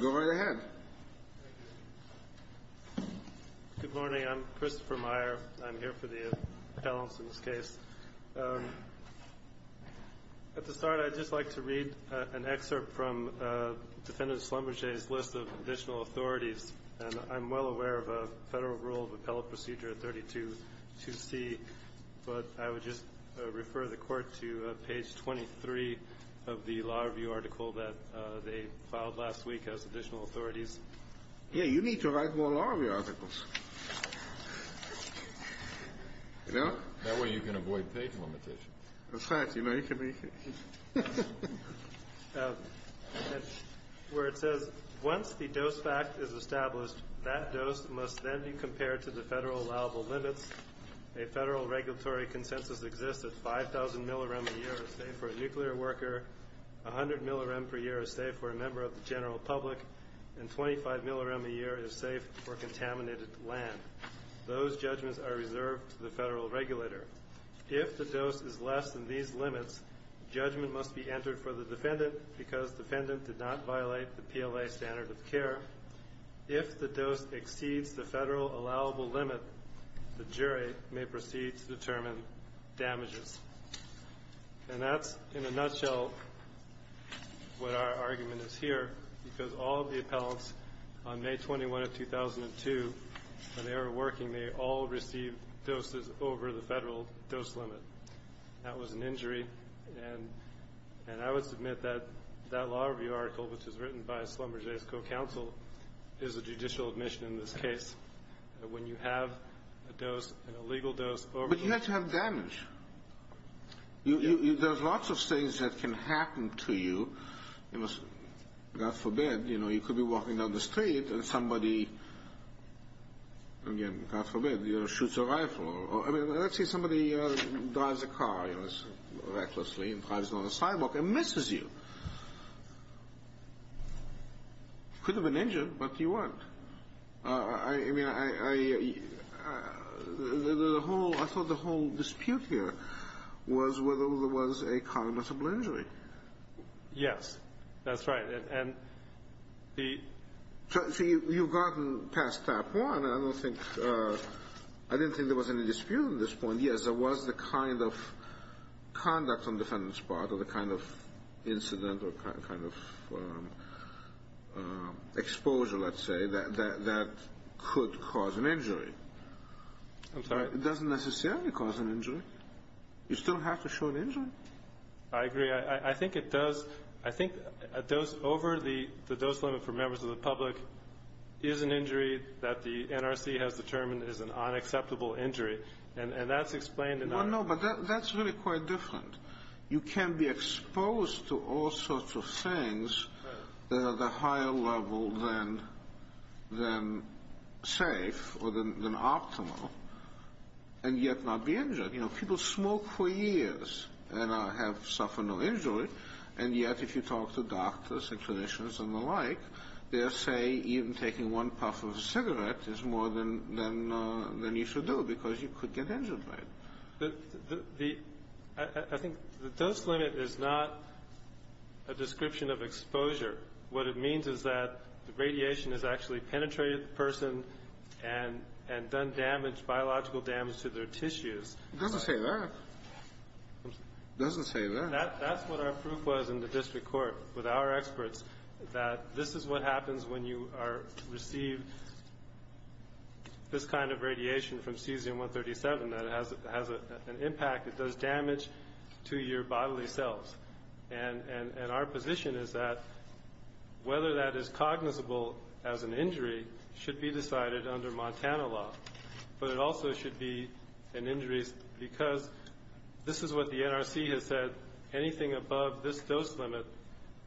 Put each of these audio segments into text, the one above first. Go right ahead. Good morning, I'm Christopher Meyer. I'm here for the Pallinson's case. At the start, I'd just like to read an excerpt from Defendant Schlumberger's list of additional authorities. And I'm well aware of a federal rule of appellate procedure 32 to see. But I would just refer the court to page 23 of the law review article that they filed last week as additional authorities. Yeah, you need to write more law review articles. You know, that way you can avoid page limitation. That's right, you mentioned me. Where it says, once the dose fact is established, that dose must then be compared to the federal allowable limits. A federal regulatory consensus exists at 5,000 millirem a year for a nuclear worker, 100 millirem per year is safe for a member of the general public, and 25 millirem a year is safe for contaminated land. Those judgments are reserved to the federal regulator. If the dose is less than these limits, judgment must be entered for the defendant because defendant did not violate the PLA standard of care. If the dose exceeds the federal allowable limit, the jury may proceed to determine damages. And that's, in a nutshell, what our argument is here, because all of the appellants on May 21 of 2002, when they were working, they all received doses over the federal dose limit. That was an injury. And I would submit that that law review article, which was written by Slumber Jay's co-counsel, is a judicial admission in this case, that when you have a dose, an illegal dose, but you have to have damage. There's lots of things that can happen to you. God forbid, you could be walking down the street and somebody, again, God forbid, shoots a rifle. Let's say somebody drives a car recklessly and drives down a sidewalk and misses you. Could have been injured, but you weren't. I mean, I thought the whole dispute here was whether there was a comitable injury. Yes. That's right. And the ---- So you've gotten past that point. I don't think ---- I didn't think there was any dispute on this point. Yes, there was the kind of conduct on the defendant's part or the kind of incident or kind of exposure, let's say, that could cause an injury. I'm sorry? It doesn't necessarily cause an injury. You still have to show an injury. I agree. I think it does. I think a dose over the dose limit for members of the public is an injury that the NRC has determined is an unacceptable injury. And that's explained in our ---- Well, no, but that's really quite different. You can be exposed to all sorts of things that are the higher level than safe or than optimal and yet not be injured. You know, people smoke for years and have suffered no injury, and yet if you talk to doctors and clinicians and the like, they'll say even taking one puff of a cigarette is more than you should do because you could get injured by it. I think the dose limit is not a description of exposure. What it means is that the radiation has actually penetrated the person and done damage, biological damage to their tissues. It doesn't say that. It doesn't say that. That's what our proof was in the district court with our experts, that this is what happens when you receive this kind of radiation from cesium-137, that it has an impact, it does damage to your bodily cells. And our position is that whether that is cognizable as an injury should be decided under Montana law. But it also should be an injury because this is what the NRC has said. Anything above this dose limit,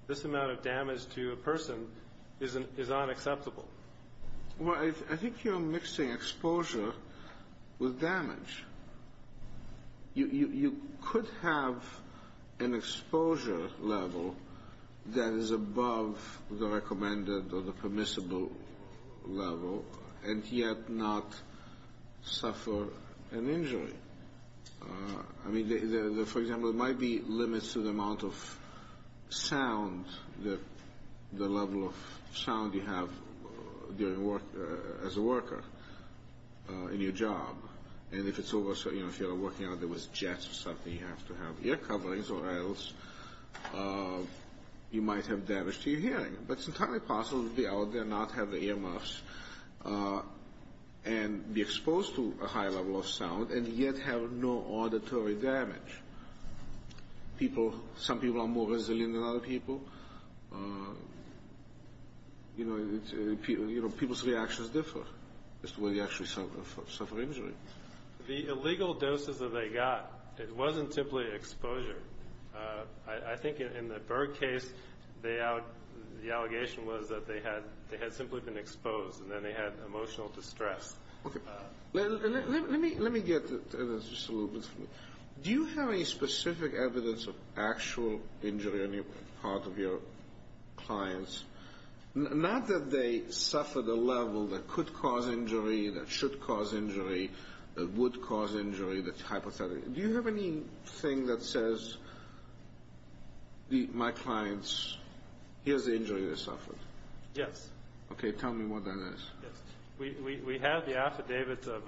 this amount of damage to a person is unacceptable. Well, I think you're mixing exposure with damage. You could have an exposure level that is above the recommended or the permissible level and yet not suffer an injury. I mean, for example, there might be limits to the amount of sound, the level of sound you have as a worker in your job. And if you're working out there with jets or something, you have to have ear coverings or else you might have damage to your hearing. But it's entirely possible to be out there and not have the ear muffs and be exposed to a high level of sound and yet have no auditory damage. Some people are more resilient than other people. You know, people's reactions differ as to whether you actually suffer injury. The illegal doses that they got, it wasn't simply exposure. I think in the Berg case, the allegation was that they had simply been exposed and then they had emotional distress. Okay. Let me get to this just a little bit. Do you have any specific evidence of actual injury on the part of your clients? Not that they suffered a level that could cause injury, that should cause injury, that would cause injury, that's hypothetical. Do you have anything that says my clients, here's the injury they suffered? Yes. Okay. Tell me what that is. We have the affidavits of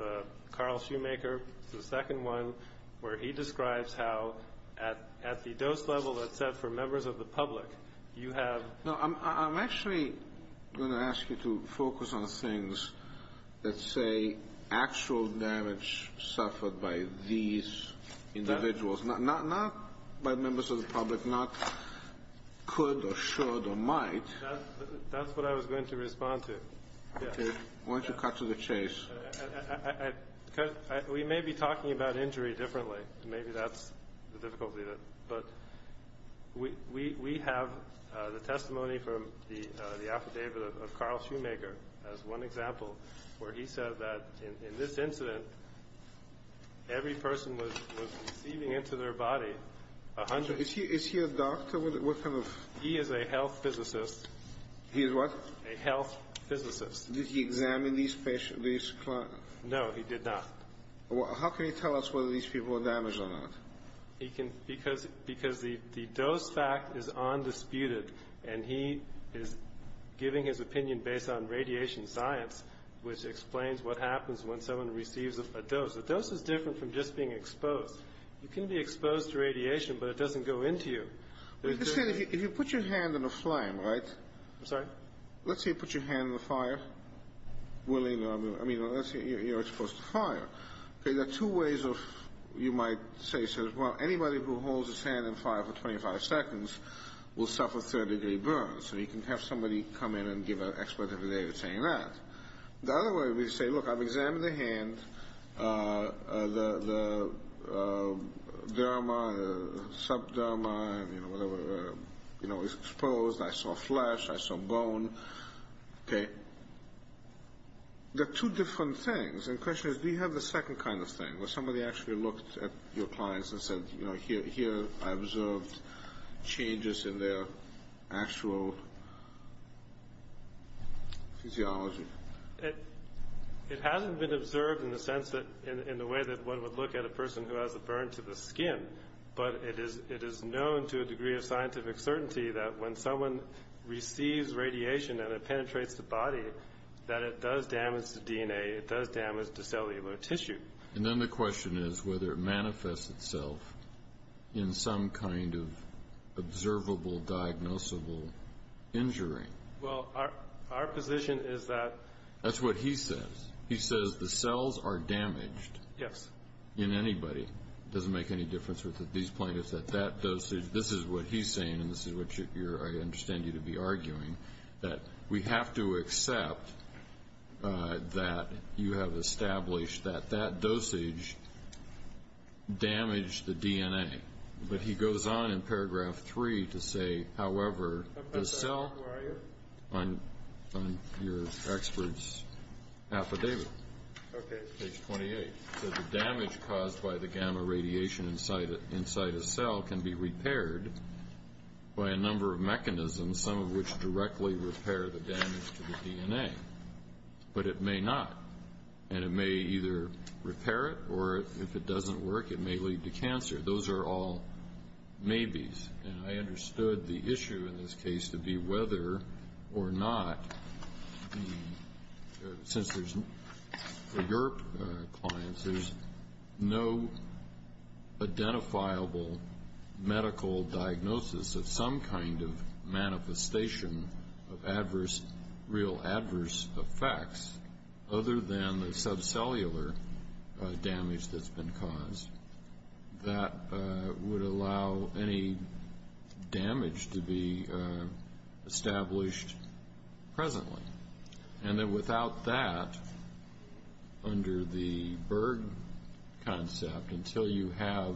Carl Shoemaker, the second one, where he describes how at the dose level that's set for members of the public, you have... Not by members of the public, not could or should or might... That's what I was going to respond to. Okay. Why don't you cut to the chase. We may be talking about injury differently. Maybe that's the difficulty. But we have the testimony from the affidavit of Carl Shoemaker as one example where he said that in this incident every person was receiving into their body a hundred... Is he a doctor? He is a health physicist. He is what? A health physicist. Did he examine these patients, these clients? No, he did not. How can he tell us whether these people were damaged or not? Because the dose fact is undisputed and he is giving his opinion based on radiation science, which explains what happens when someone receives a dose. A dose is different from just being exposed. You can be exposed to radiation, but it doesn't go into you. If you put your hand in a flame, right? I'm sorry? Let's say you put your hand in a fire. I mean, let's say you're exposed to fire. There are two ways of, you might say, well, anybody who holds his hand in fire for 25 seconds will suffer third-degree burns. So you can have somebody come in and give an expert of the day that's saying that. The other way would be to say, look, I've examined the hand... The derma, the subderma, you know, is exposed. I saw flesh. I saw bone. Okay? There are two different things. And the question is, do you have the second kind of thing where somebody actually looked at your clients and said, you know, here I observed changes in their actual physiology? It hasn't been observed in the sense that, in the way that one would look at a person who has a burn to the skin. But it is known to a degree of scientific certainty that when someone receives radiation and it penetrates the body, that it does damage the DNA. It does damage the cellular tissue. And then the question is whether it manifests itself in some kind of observable, diagnosable injury. Well, our position is that... That's what he says. He says the cells are damaged. Yes. In anybody. It doesn't make any difference whether these plaintiffs at that dosage... This is what he's saying, and this is what I understand you to be arguing, that we have to accept that you have established that that dosage damaged the DNA. But he goes on in paragraph three to say, however, the cell... Who are you? I'm your expert's affidavit. Okay. Page 28. So the damage caused by the gamma radiation inside a cell can be repaired by a number of mechanisms, some of which directly repair the damage to the DNA. But it may not. And it may either repair it, or if it doesn't work, it may lead to cancer. Those are all maybes. And I understood the issue in this case to be whether or not, since there's, for your clients, there's no identifiable medical diagnosis of some kind of manifestation of adverse, real adverse effects other than the subcellular damage that's been caused that would allow any damage to be established presently. And that without that, under the Berg concept, until you have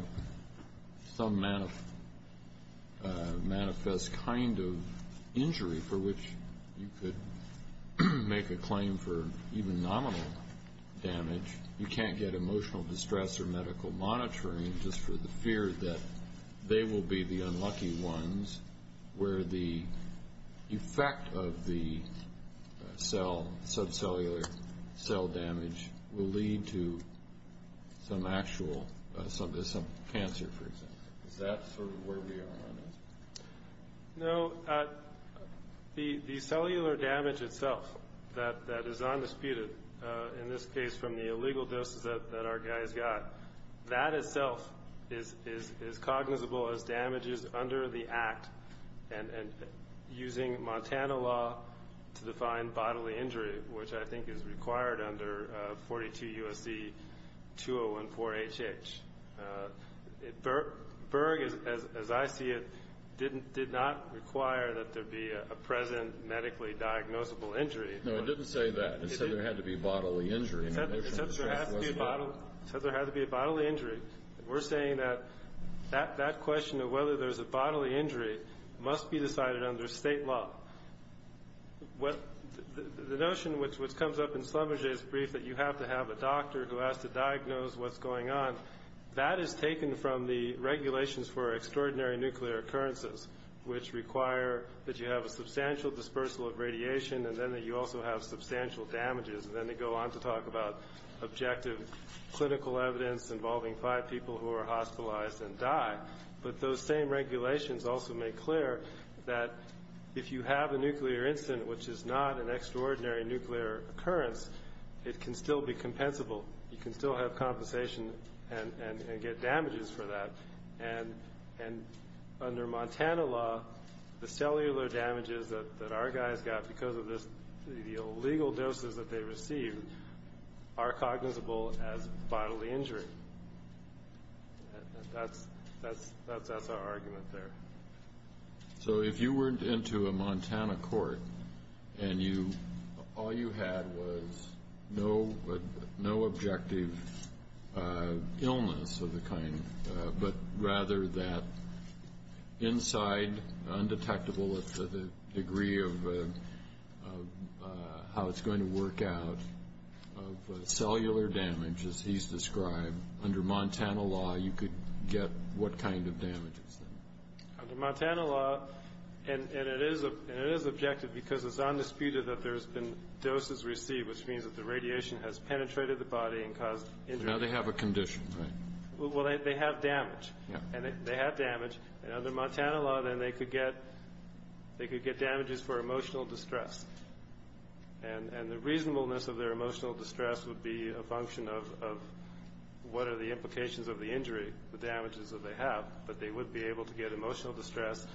some manifest kind of injury for which you could make a claim for even nominal damage, you can't get emotional distress or medical monitoring just for the fear that they will be the unlucky ones where the effect of the cell, subcellular cell damage, will lead to some actual, some cancer, for example. Is that sort of where we are on this? No. The cellular damage itself that is undisputed in this case from the illegal doses that our guys got, that itself is cognizable as damages under the Act and using Montana law to define bodily injury, which I think is required under 42 U.S.C. 2014HH. Berg, as I see it, did not require that there be a present medically diagnosable injury. No, it didn't say that. It said there had to be bodily injury. It said there had to be a bodily injury. We're saying that that question of whether there's a bodily injury must be decided under state law. Well, the notion which comes up in Sloboda's brief that you have to have a doctor who has to diagnose what's going on, that is taken from the regulations for extraordinary nuclear occurrences, which require that you have a substantial dispersal of radiation and then that you also have substantial damages, and then they go on to talk about objective clinical evidence involving five people who are hospitalized and die. But those same regulations also make clear that if you have a nuclear incident, which is not an extraordinary nuclear occurrence, it can still be compensable. You can still have compensation and get damages for that. And under Montana law, the cellular damages that our guys got because of the illegal doses that they received are cognizable as bodily injury. That's our argument there. So if you were into a Montana court and all you had was no objective illness of the kind, but rather that inside undetectable to the degree of how it's going to work out of cellular damage, as he's described, under Montana law you could get what kind of damages? Under Montana law, and it is objective because it's undisputed that there's been doses received, which means that the radiation has penetrated the body and caused injury. Now they have a condition, right? Well, they have damage, and they have damage. Under Montana law, then, they could get damages for emotional distress. And the reasonableness of their emotional distress would be a function of what are the implications of the injury, the damages that they have, but they would be able to get emotional distress.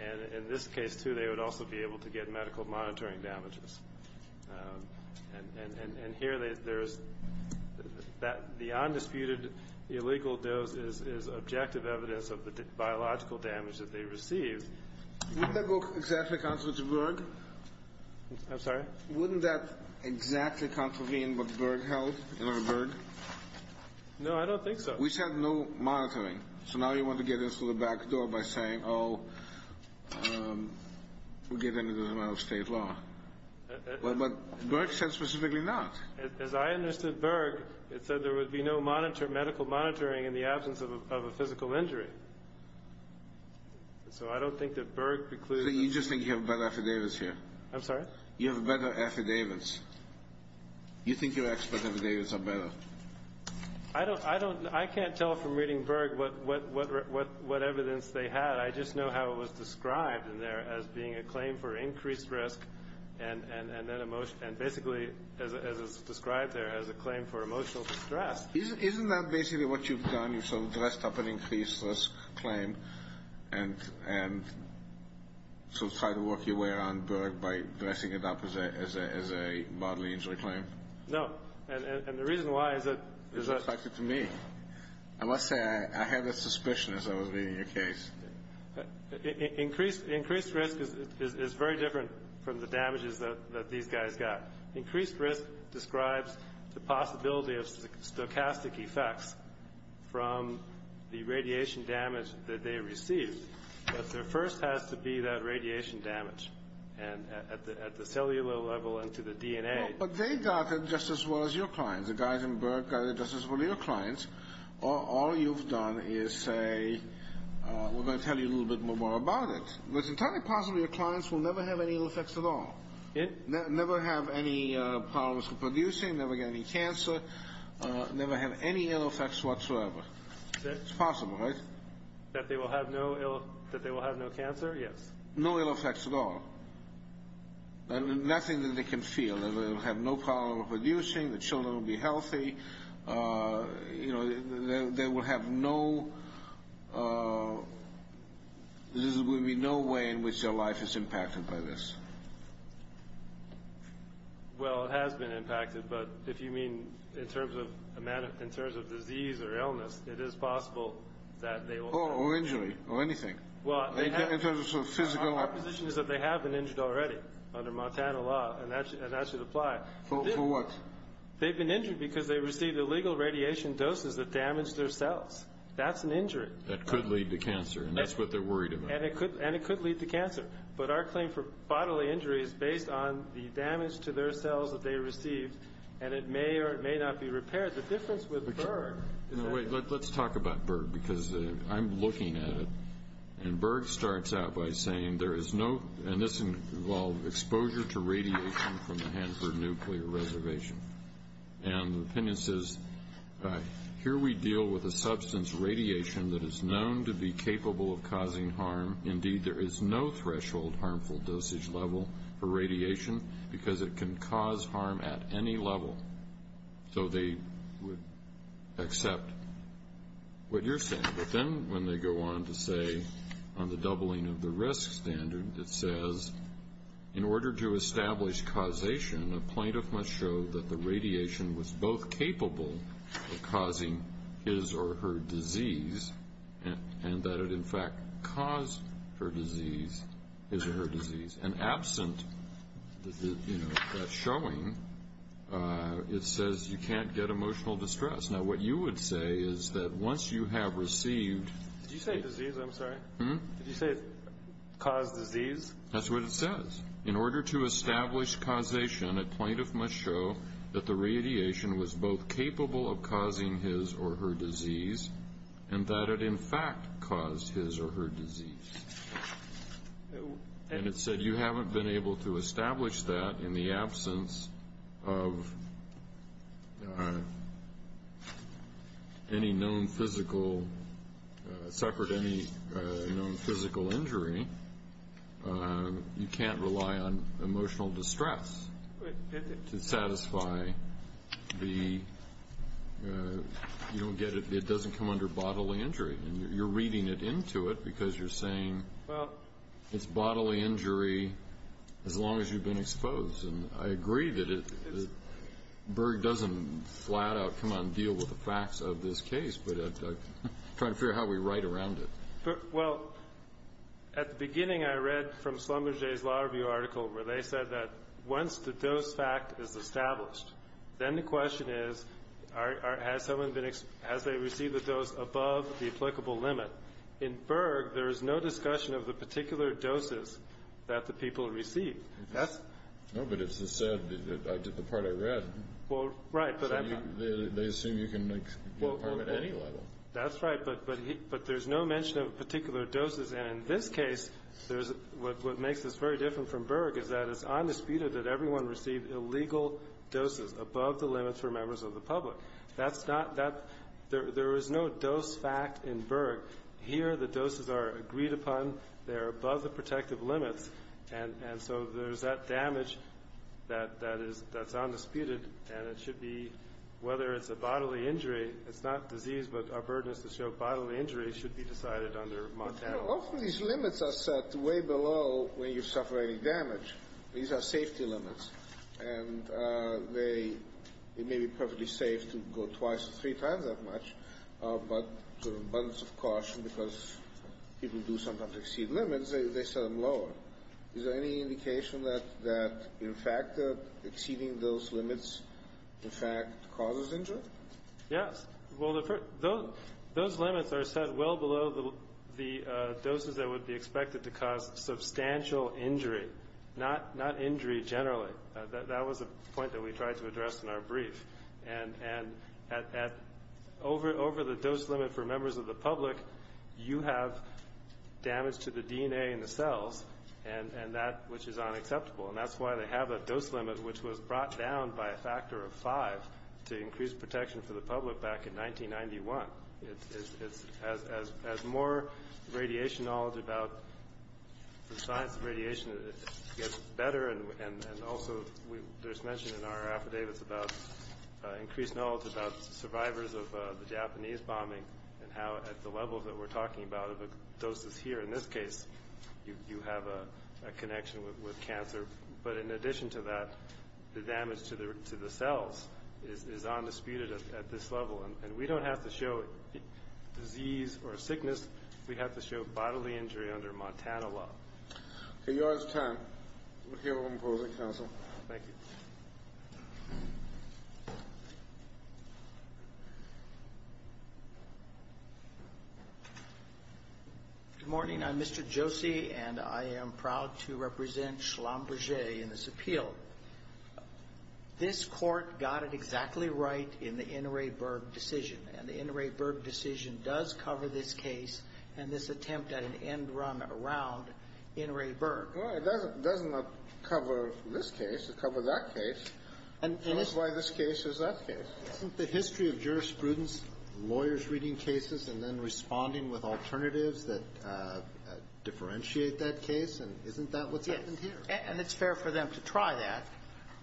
And in this case, too, they would also be able to get medical monitoring damages. And here there is that the undisputed illegal dose is objective evidence of the biological damage that they received. Wouldn't that go exactly contrary to Berg? I'm sorry? Wouldn't that exactly contravene what Berg held under Berg? No, I don't think so. Which had no monitoring. So now you want to get into the back door by saying, oh, we'll get into the amount of state law. But Berg said specifically not. As I understood Berg, it said there would be no medical monitoring in the absence of a physical injury. So I don't think that Berg precludes that. You just think you have better affidavits here. I'm sorry? You have better affidavits. You think your expert affidavits are better. I can't tell from reading Berg what evidence they had. I just know how it was described in there as being a claim for increased risk. And basically, as is described there, as a claim for emotional distress. Isn't that basically what you've done? You've sort of dressed up an increased risk claim and sort of tried to work your way around Berg by dressing it up as a bodily injury claim? No. And the reason why is that. It's affected to me. I must say, I had that suspicion as I was reading your case. Increased risk is very different from the damages that these guys got. Increased risk describes the possibility of stochastic effects from the radiation damage that they received. But there first has to be that radiation damage. And at the cellular level and to the DNA. But they got it just as well as your clients. The guys in Berg got it just as well as your clients. All you've done is say, we're going to tell you a little bit more about it. It's entirely possible your clients will never have any ill effects at all. Never have any problems with producing, never get any cancer, never have any ill effects whatsoever. It's possible, right? That they will have no cancer? Yes. No ill effects at all. Nothing that they can feel. They will have no problem producing. The children will be healthy. There will have no way in which their life is impacted by this. Well, it has been impacted. But if you mean in terms of disease or illness, it is possible that they will. Or injury or anything. In terms of physical. My position is that they have been injured already under Montana law. And that should apply. For what? They've been injured because they received illegal radiation doses that damaged their cells. That's an injury. That could lead to cancer. And that's what they're worried about. And it could lead to cancer. But our claim for bodily injury is based on the damage to their cells that they received. And it may or it may not be repaired. The difference with Berg. Let's talk about Berg. Because I'm looking at it. And Berg starts out by saying there is no. And this involves exposure to radiation from the Hanford Nuclear Reservation. And the opinion says, Here we deal with a substance, radiation, that is known to be capable of causing harm. Indeed, there is no threshold harmful dosage level for radiation. Because it can cause harm at any level. So they would accept what you're saying. But then when they go on to say on the doubling of the risk standard, it says, In order to establish causation, a plaintiff must show that the radiation was both capable of causing his or her disease and that it in fact caused her disease, his or her disease. And absent that showing, it says you can't get emotional distress. Now what you would say is that once you have received. Did you say disease? I'm sorry. Did you say cause disease? That's what it says. In order to establish causation, a plaintiff must show that the radiation was both capable of causing his or her disease and that it in fact caused his or her disease. And it said you haven't been able to establish that in the absence of any known physical, suffered any known physical injury. You can't rely on emotional distress to satisfy the, you don't get it, it doesn't come under bodily injury. And you're reading it into it because you're saying it's bodily injury as long as you've been exposed. And I agree that Berg doesn't flat out come out and deal with the facts of this case, but I'm trying to figure out how we write around it. Well, at the beginning I read from Slumber J's law review article where they said that once the dose fact is established, then the question is has someone been, has they received the dose above the applicable limit? In Berg, there is no discussion of the particular doses that the people received. No, but it's the part I read. Well, right, but I'm not. They assume you can make your part at any level. That's right, but there's no mention of particular doses. And in this case, what makes this very different from Berg is that it's undisputed that everyone received illegal doses. Above the limits were members of the public. That's not that. There is no dose fact in Berg. Here the doses are agreed upon. They are above the protective limits. And so there's that damage that is, that's undisputed. And it should be, whether it's a bodily injury, it's not disease, but our burden is to show bodily injury should be decided under Montana. Often these limits are set way below when you suffer any damage. These are safety limits. And they, it may be perfectly safe to go twice or three times that much, but sort of abundance of caution, because people do sometimes exceed limits, they set them lower. Is there any indication that, in fact, that exceeding those limits, in fact, causes injury? Yes. Well, those limits are set well below the doses that would be expected to cause substantial injury. Not injury generally. That was a point that we tried to address in our brief. And over the dose limit for members of the public, you have damage to the DNA in the cells, and that which is unacceptable. And that's why they have a dose limit which was brought down by a factor of five to increase protection for the public back in 1991. It's, as more radiation knowledge about the science of radiation gets better, and also we just mentioned in our affidavits about increased knowledge about survivors of the Japanese bombing and how at the levels that we're talking about of doses here, in this case, you have a connection with cancer. But in addition to that, the damage to the cells is undisputed at this level. And we don't have to show disease or sickness. We have to show bodily injury under Montana law. Okay. Your time. McHale in closing. Counsel. Thank you. Good morning. I'm Mr. Josie, and I am proud to represent Schlumberger in this appeal. This Court got it exactly right in the Inouye-Berg decision, and the Inouye-Berg decision does cover this case and this attempt at an end run around Inouye-Berg. Well, it doesn't cover this case. It covers that case. And that's why this case is that case. Isn't the history of jurisprudence lawyers reading cases and then responding with alternatives that differentiate that case? And isn't that what's happened here? And it's fair for them to try that.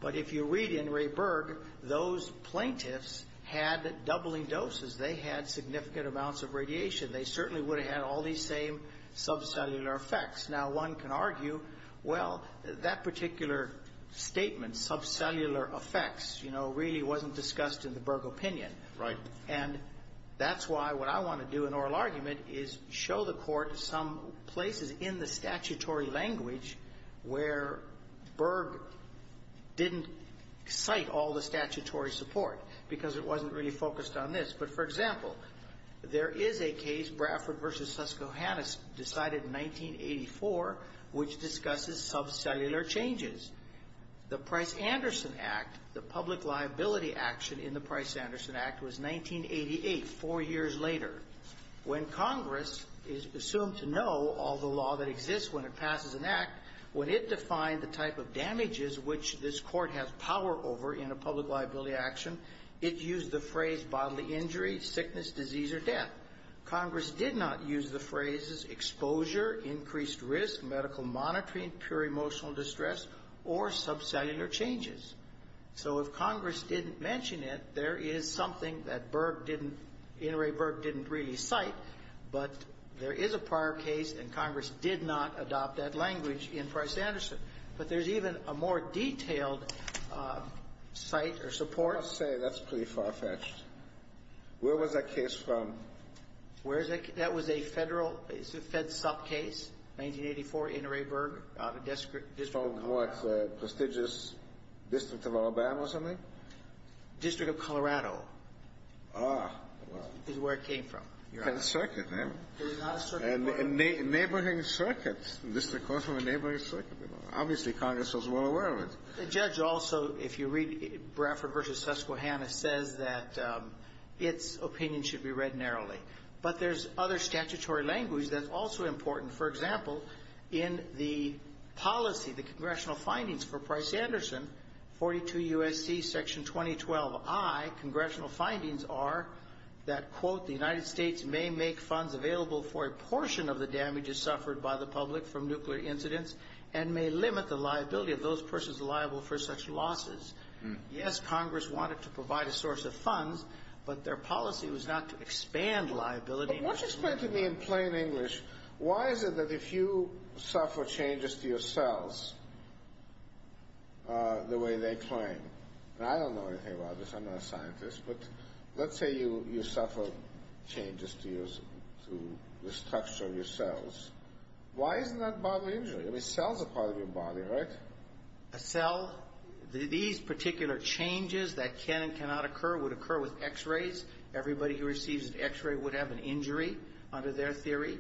But if you read Inouye-Berg, those plaintiffs had doubling doses. They had significant amounts of radiation. They certainly would have had all these same subcellular effects. Now, one can argue, well, that particular statement, subcellular effects, you know, really wasn't discussed in the Berg opinion. Right. And that's why what I want to do in oral argument is show the Court some places in the statutory language where Berg didn't cite all the statutory support, because it wasn't really focused on this. But, for example, there is a case, Bradford v. Susquehanna, decided in 1984, which discusses subcellular changes. The Price-Anderson Act, the public liability action in the Price-Anderson Act was 1988, four years later. When Congress is presumed to know all the law that exists when it passes an act, when it defined the type of damages which this Court has power over in a public liability action, it used the phrase bodily injury, sickness, disease, or death. Congress did not use the phrases exposure, increased risk, medical monitoring, pure emotional distress, or subcellular changes. So if Congress didn't mention it, there is something that Berg didn't, Inouye Berg didn't really cite. But there is a prior case, and Congress did not adopt that language in Price-Anderson. But there's even a more detailed cite or support. I must say, that's pretty far-fetched. Where was that case from? Where is that case? That was a federal, it's a fed sub case, 1984, Inouye Berg, out of district. It's from, what, prestigious district of Alabama or something? District of Colorado. Ah. Is where it came from. It's a circuit. It's not a circuit court. A neighboring circuit. This is a court from a neighboring circuit. Obviously, Congress was well aware of it. The judge also, if you read Bradford v. Susquehanna, says that its opinion should be read narrowly. But there's other statutory language that's also important. For example, in the policy, the congressional findings for Price-Anderson, 42 U.S.C. Section 2012I, congressional findings are that, quote, the United States may make funds available for a portion of the damages suffered by the public from nuclear incidents and may limit the liability of those persons liable for such losses. Yes, Congress wanted to provide a source of funds, but their policy was not to expand liability. But won't you explain to me in plain English, why is it that if you suffer changes to your cells the way they claim, and I don't know anything about this, I'm not a scientist, but let's say you suffer changes to the structure of your cells, why isn't that bodily injury? I mean, cells are part of your body, right? A cell, these particular changes that can and cannot occur would occur with x-rays. Everybody who receives an x-ray would have an injury under their theory.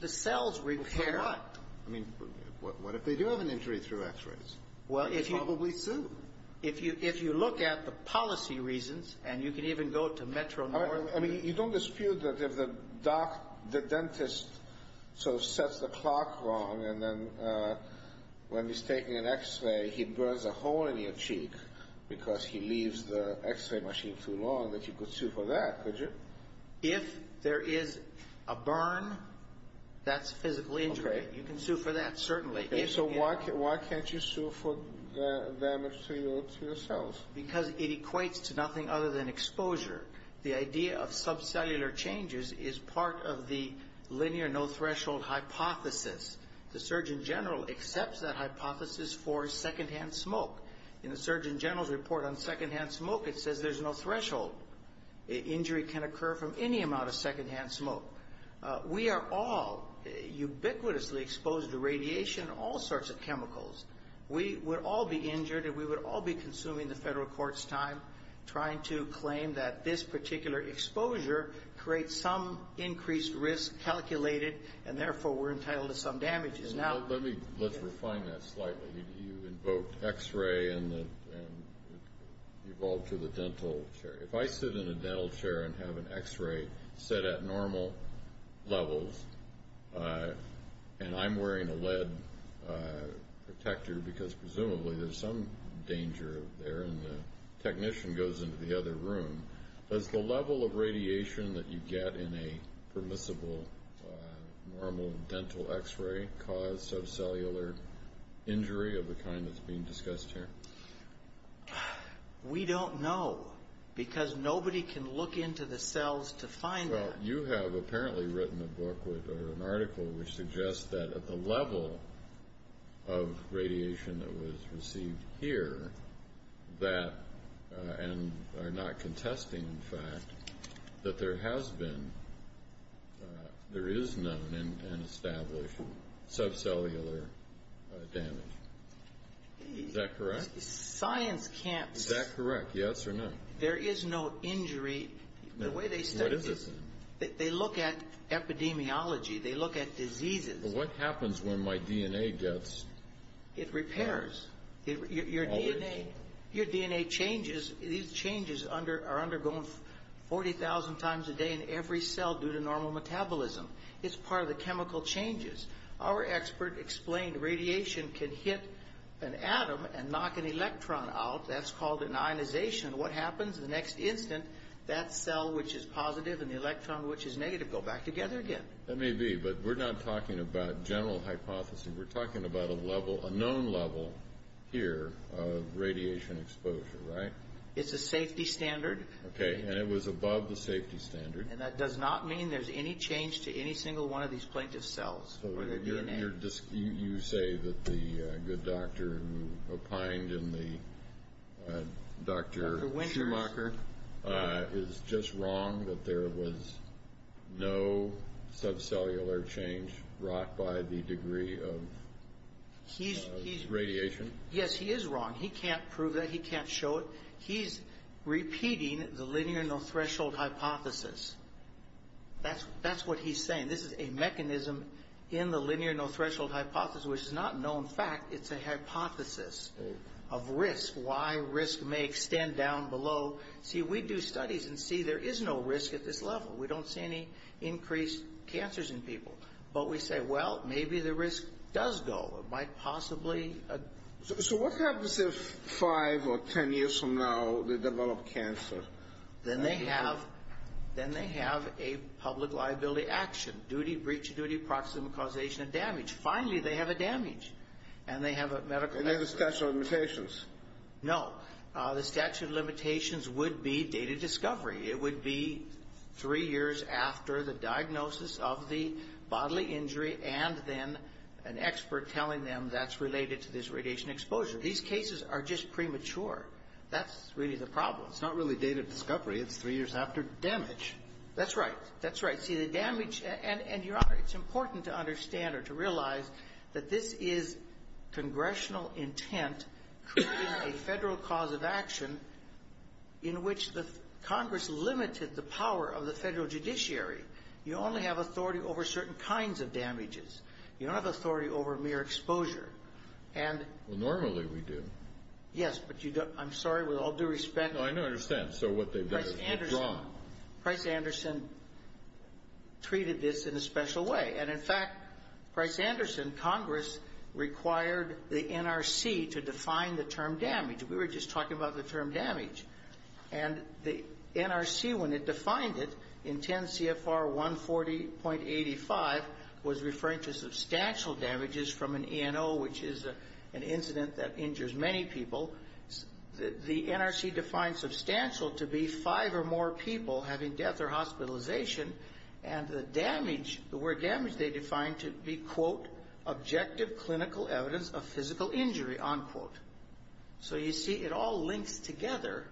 The cells repair. For what? I mean, what if they do have an injury through x-rays? Probably soon. If you look at the policy reasons, and you can even go to Metro North. I mean, you don't dispute that if the dentist sort of sets the clock wrong and then when he's taking an x-ray, he burns a hole in your cheek because he leaves the x-ray machine too long, that you could sue for that, could you? If there is a burn, that's a physical injury. Okay. You can sue for that, certainly. Okay, so why can't you sue for damage to your cells? Because it equates to nothing other than exposure. The idea of subcellular changes is part of the linear no-threshold hypothesis. The surgeon general accepts that hypothesis for secondhand smoke. In the surgeon general's report on secondhand smoke, it says there's no threshold. Injury can occur from any amount of secondhand smoke. We are all ubiquitously exposed to radiation and all sorts of chemicals. We would all be injured, and we would all be consuming the federal court's time trying to claim that this particular exposure creates some increased risk calculated, and therefore we're entitled to some damages. Let's refine that slightly. You invoked x-ray and it evolved to the dental chair. If I sit in a dental chair and have an x-ray set at normal levels, and I'm wearing a lead protector because presumably there's some danger there and the technician goes into the other room, does the level of radiation that you get in a permissible normal dental x-ray cause subcellular injury of the kind that's being discussed here? We don't know because nobody can look into the cells to find that. Well, you have apparently written a book or an article which suggests that the level of radiation that was received here that, and not contesting the fact, that there has been, there is known and established subcellular damage. Is that correct? Science can't say. Is that correct, yes or no? There is no injury. No. What is this then? They look at epidemiology. They look at diseases. Well, what happens when my DNA gets... It repairs. Your DNA changes. These changes are undergone 40,000 times a day in every cell due to normal metabolism. It's part of the chemical changes. Our expert explained radiation can hit an atom and knock an electron out. That's called an ionization. What happens? The next instant, that cell which is positive and the electron which is negative go back together again. That may be, but we're not talking about general hypothesis. We're talking about a level, a known level here of radiation exposure, right? It's a safety standard. Okay, and it was above the safety standard. And that does not mean there's any change to any single one of these plaintiff's cells or their DNA. You say that the good doctor who opined in the Dr. Schumacher is just wrong, that there was no subcellular change brought by the degree of radiation? Yes, he is wrong. He can't prove that. He can't show it. He's repeating the linear no-threshold hypothesis. That's what he's saying. I mean, this is a mechanism in the linear no-threshold hypothesis, which is not a known fact. It's a hypothesis of risk, why risk may extend down below. See, we do studies and see there is no risk at this level. We don't see any increased cancers in people. But we say, well, maybe the risk does go. It might possibly. So what happens if five or ten years from now they develop cancer? Then they have a public liability action. Duty, breach of duty, proximate causation of damage. Finally, they have a damage. And they have a medical expert. And there's a statute of limitations. No. The statute of limitations would be dated discovery. It would be three years after the diagnosis of the bodily injury and then an expert telling them that's related to this radiation exposure. These cases are just premature. That's really the problem. It's not really dated discovery. It's three years after damage. That's right. That's right. See, the damage and, Your Honor, it's important to understand or to realize that this is congressional intent creating a federal cause of action in which the Congress limited the power of the federal judiciary. You only have authority over certain kinds of damages. You don't have authority over mere exposure. Well, normally we do. Yes, but you don't. I'm sorry. With all due respect. No, I understand. So what they've done is wrong. Price-Anderson treated this in a special way. And, in fact, Price-Anderson, Congress required the NRC to define the term damage. We were just talking about the term damage. And the NRC, when it defined it in 10 CFR 140.85, was referring to substantial damages from an ENO, which is an incident that injures many people. The NRC defined substantial to be five or more people having death or hospitalization. And the word damage they defined to be, quote, objective clinical evidence of physical injury, unquote. So you see, it all links together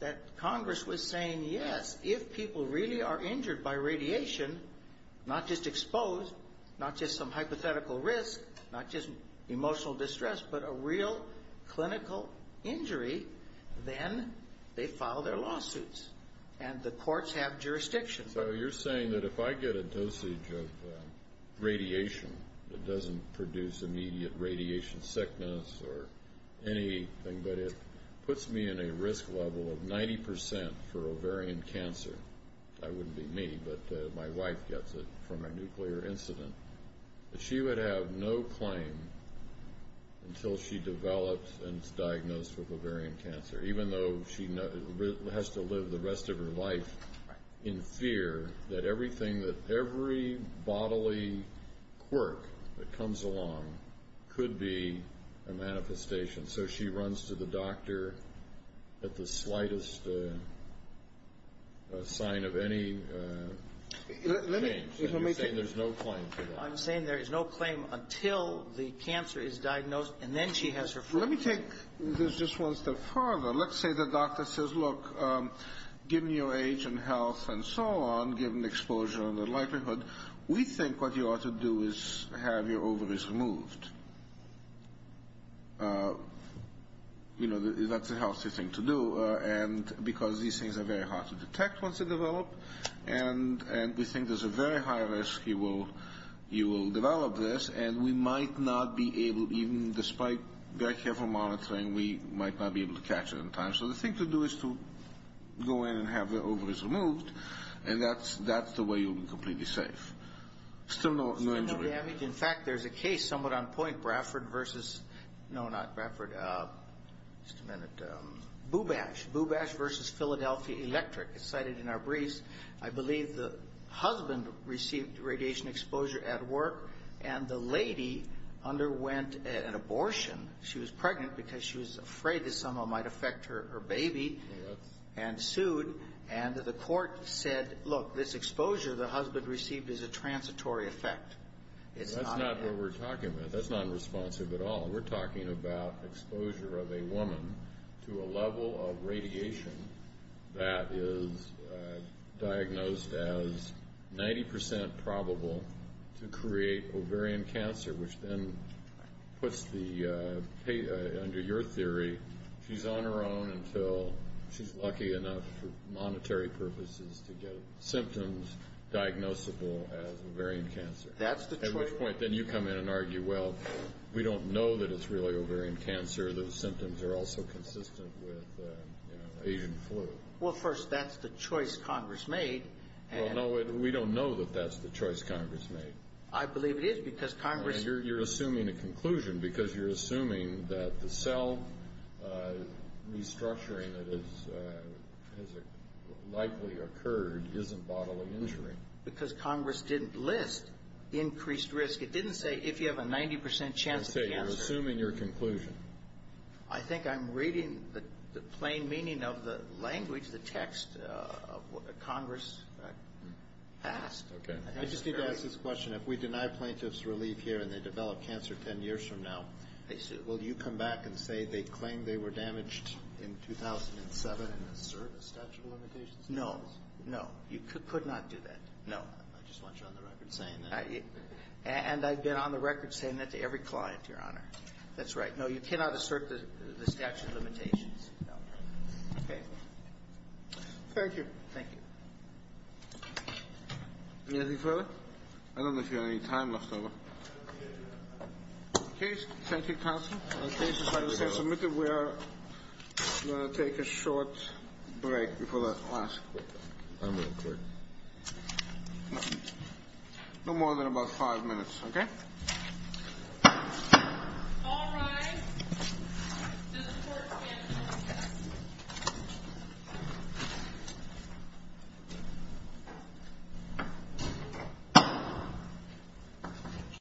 that Congress was saying, yes, if people really are injured by radiation, not just exposed, not just some hypothetical risk, not just emotional distress, but a real clinical injury, then they file their lawsuits. And the courts have jurisdictions. So you're saying that if I get a dosage of radiation that doesn't produce immediate radiation sickness or anything, but it puts me in a risk level of 90% for ovarian cancer, that wouldn't be me, but my wife gets it from a nuclear incident, that she would have no claim until she develops and is diagnosed with ovarian cancer, even though she has to live the rest of her life in fear that everything, that every bodily quirk that comes along could be a manifestation. So she runs to the doctor at the slightest sign of any change. You're saying there's no claim for that. I'm saying there is no claim until the cancer is diagnosed and then she has her family. Let me take this just one step further. Let's say the doctor says, look, given your age and health and so on, given the exposure and the likelihood, we think what you ought to do is have your ovaries removed. You know, that's a healthy thing to do, because these things are very hard to detect once they develop, and we think there's a very high risk you will develop this, and we might not be able, even despite very careful monitoring, we might not be able to catch it in time. So the thing to do is to go in and have the ovaries removed, and that's the way you'll be completely safe. Still no injury. Still no damage. In fact, there's a case somewhat on point, Bradford versus, no, not Bradford, just a minute, Bubash versus Philadelphia Electric. It's cited in our briefs. I believe the husband received radiation exposure at work, and the lady underwent an abortion. She was pregnant because she was afraid that someone might affect her baby and sued, and the court said, look, this exposure the husband received is a transitory effect. That's not what we're talking about. That's not responsive at all. We're talking about exposure of a woman to a level of radiation that is diagnosed as 90% probable to create ovarian cancer, which then puts the, under your theory, she's on her own until she's lucky enough for monetary purposes to get symptoms diagnosable as ovarian cancer. That's the choice. At which point then you come in and argue, well, we don't know that it's really ovarian cancer. Those symptoms are also consistent with, you know, Asian flu. Well, first, that's the choice Congress made. Well, no, we don't know that that's the choice Congress made. I believe it is because Congress And you're assuming a conclusion because you're assuming that the cell restructuring that has likely occurred isn't bodily injury. Because Congress didn't list increased risk. It didn't say if you have a 90% chance of cancer. It didn't say you're assuming your conclusion. I think I'm reading the plain meaning of the language, the text of what Congress passed. I just need to ask this question. If we deny plaintiffs relief here and they develop cancer 10 years from now, will you come back and say they claim they were damaged in 2007 and assert a statute of limitations? No, no. You could not do that. No. I just want you on the record saying that. And I've been on the record saying that to every client, Your Honor. That's right. No, you cannot assert the statute of limitations. Okay. Thank you. Thank you. Anything further? I don't know if you have any time left over. Case, thank you, counsel. Case, if I may say, submitted, we are going to take a short break before the last court. I'm going to quit. No more than about five minutes, okay? All rise. This court is adjourned.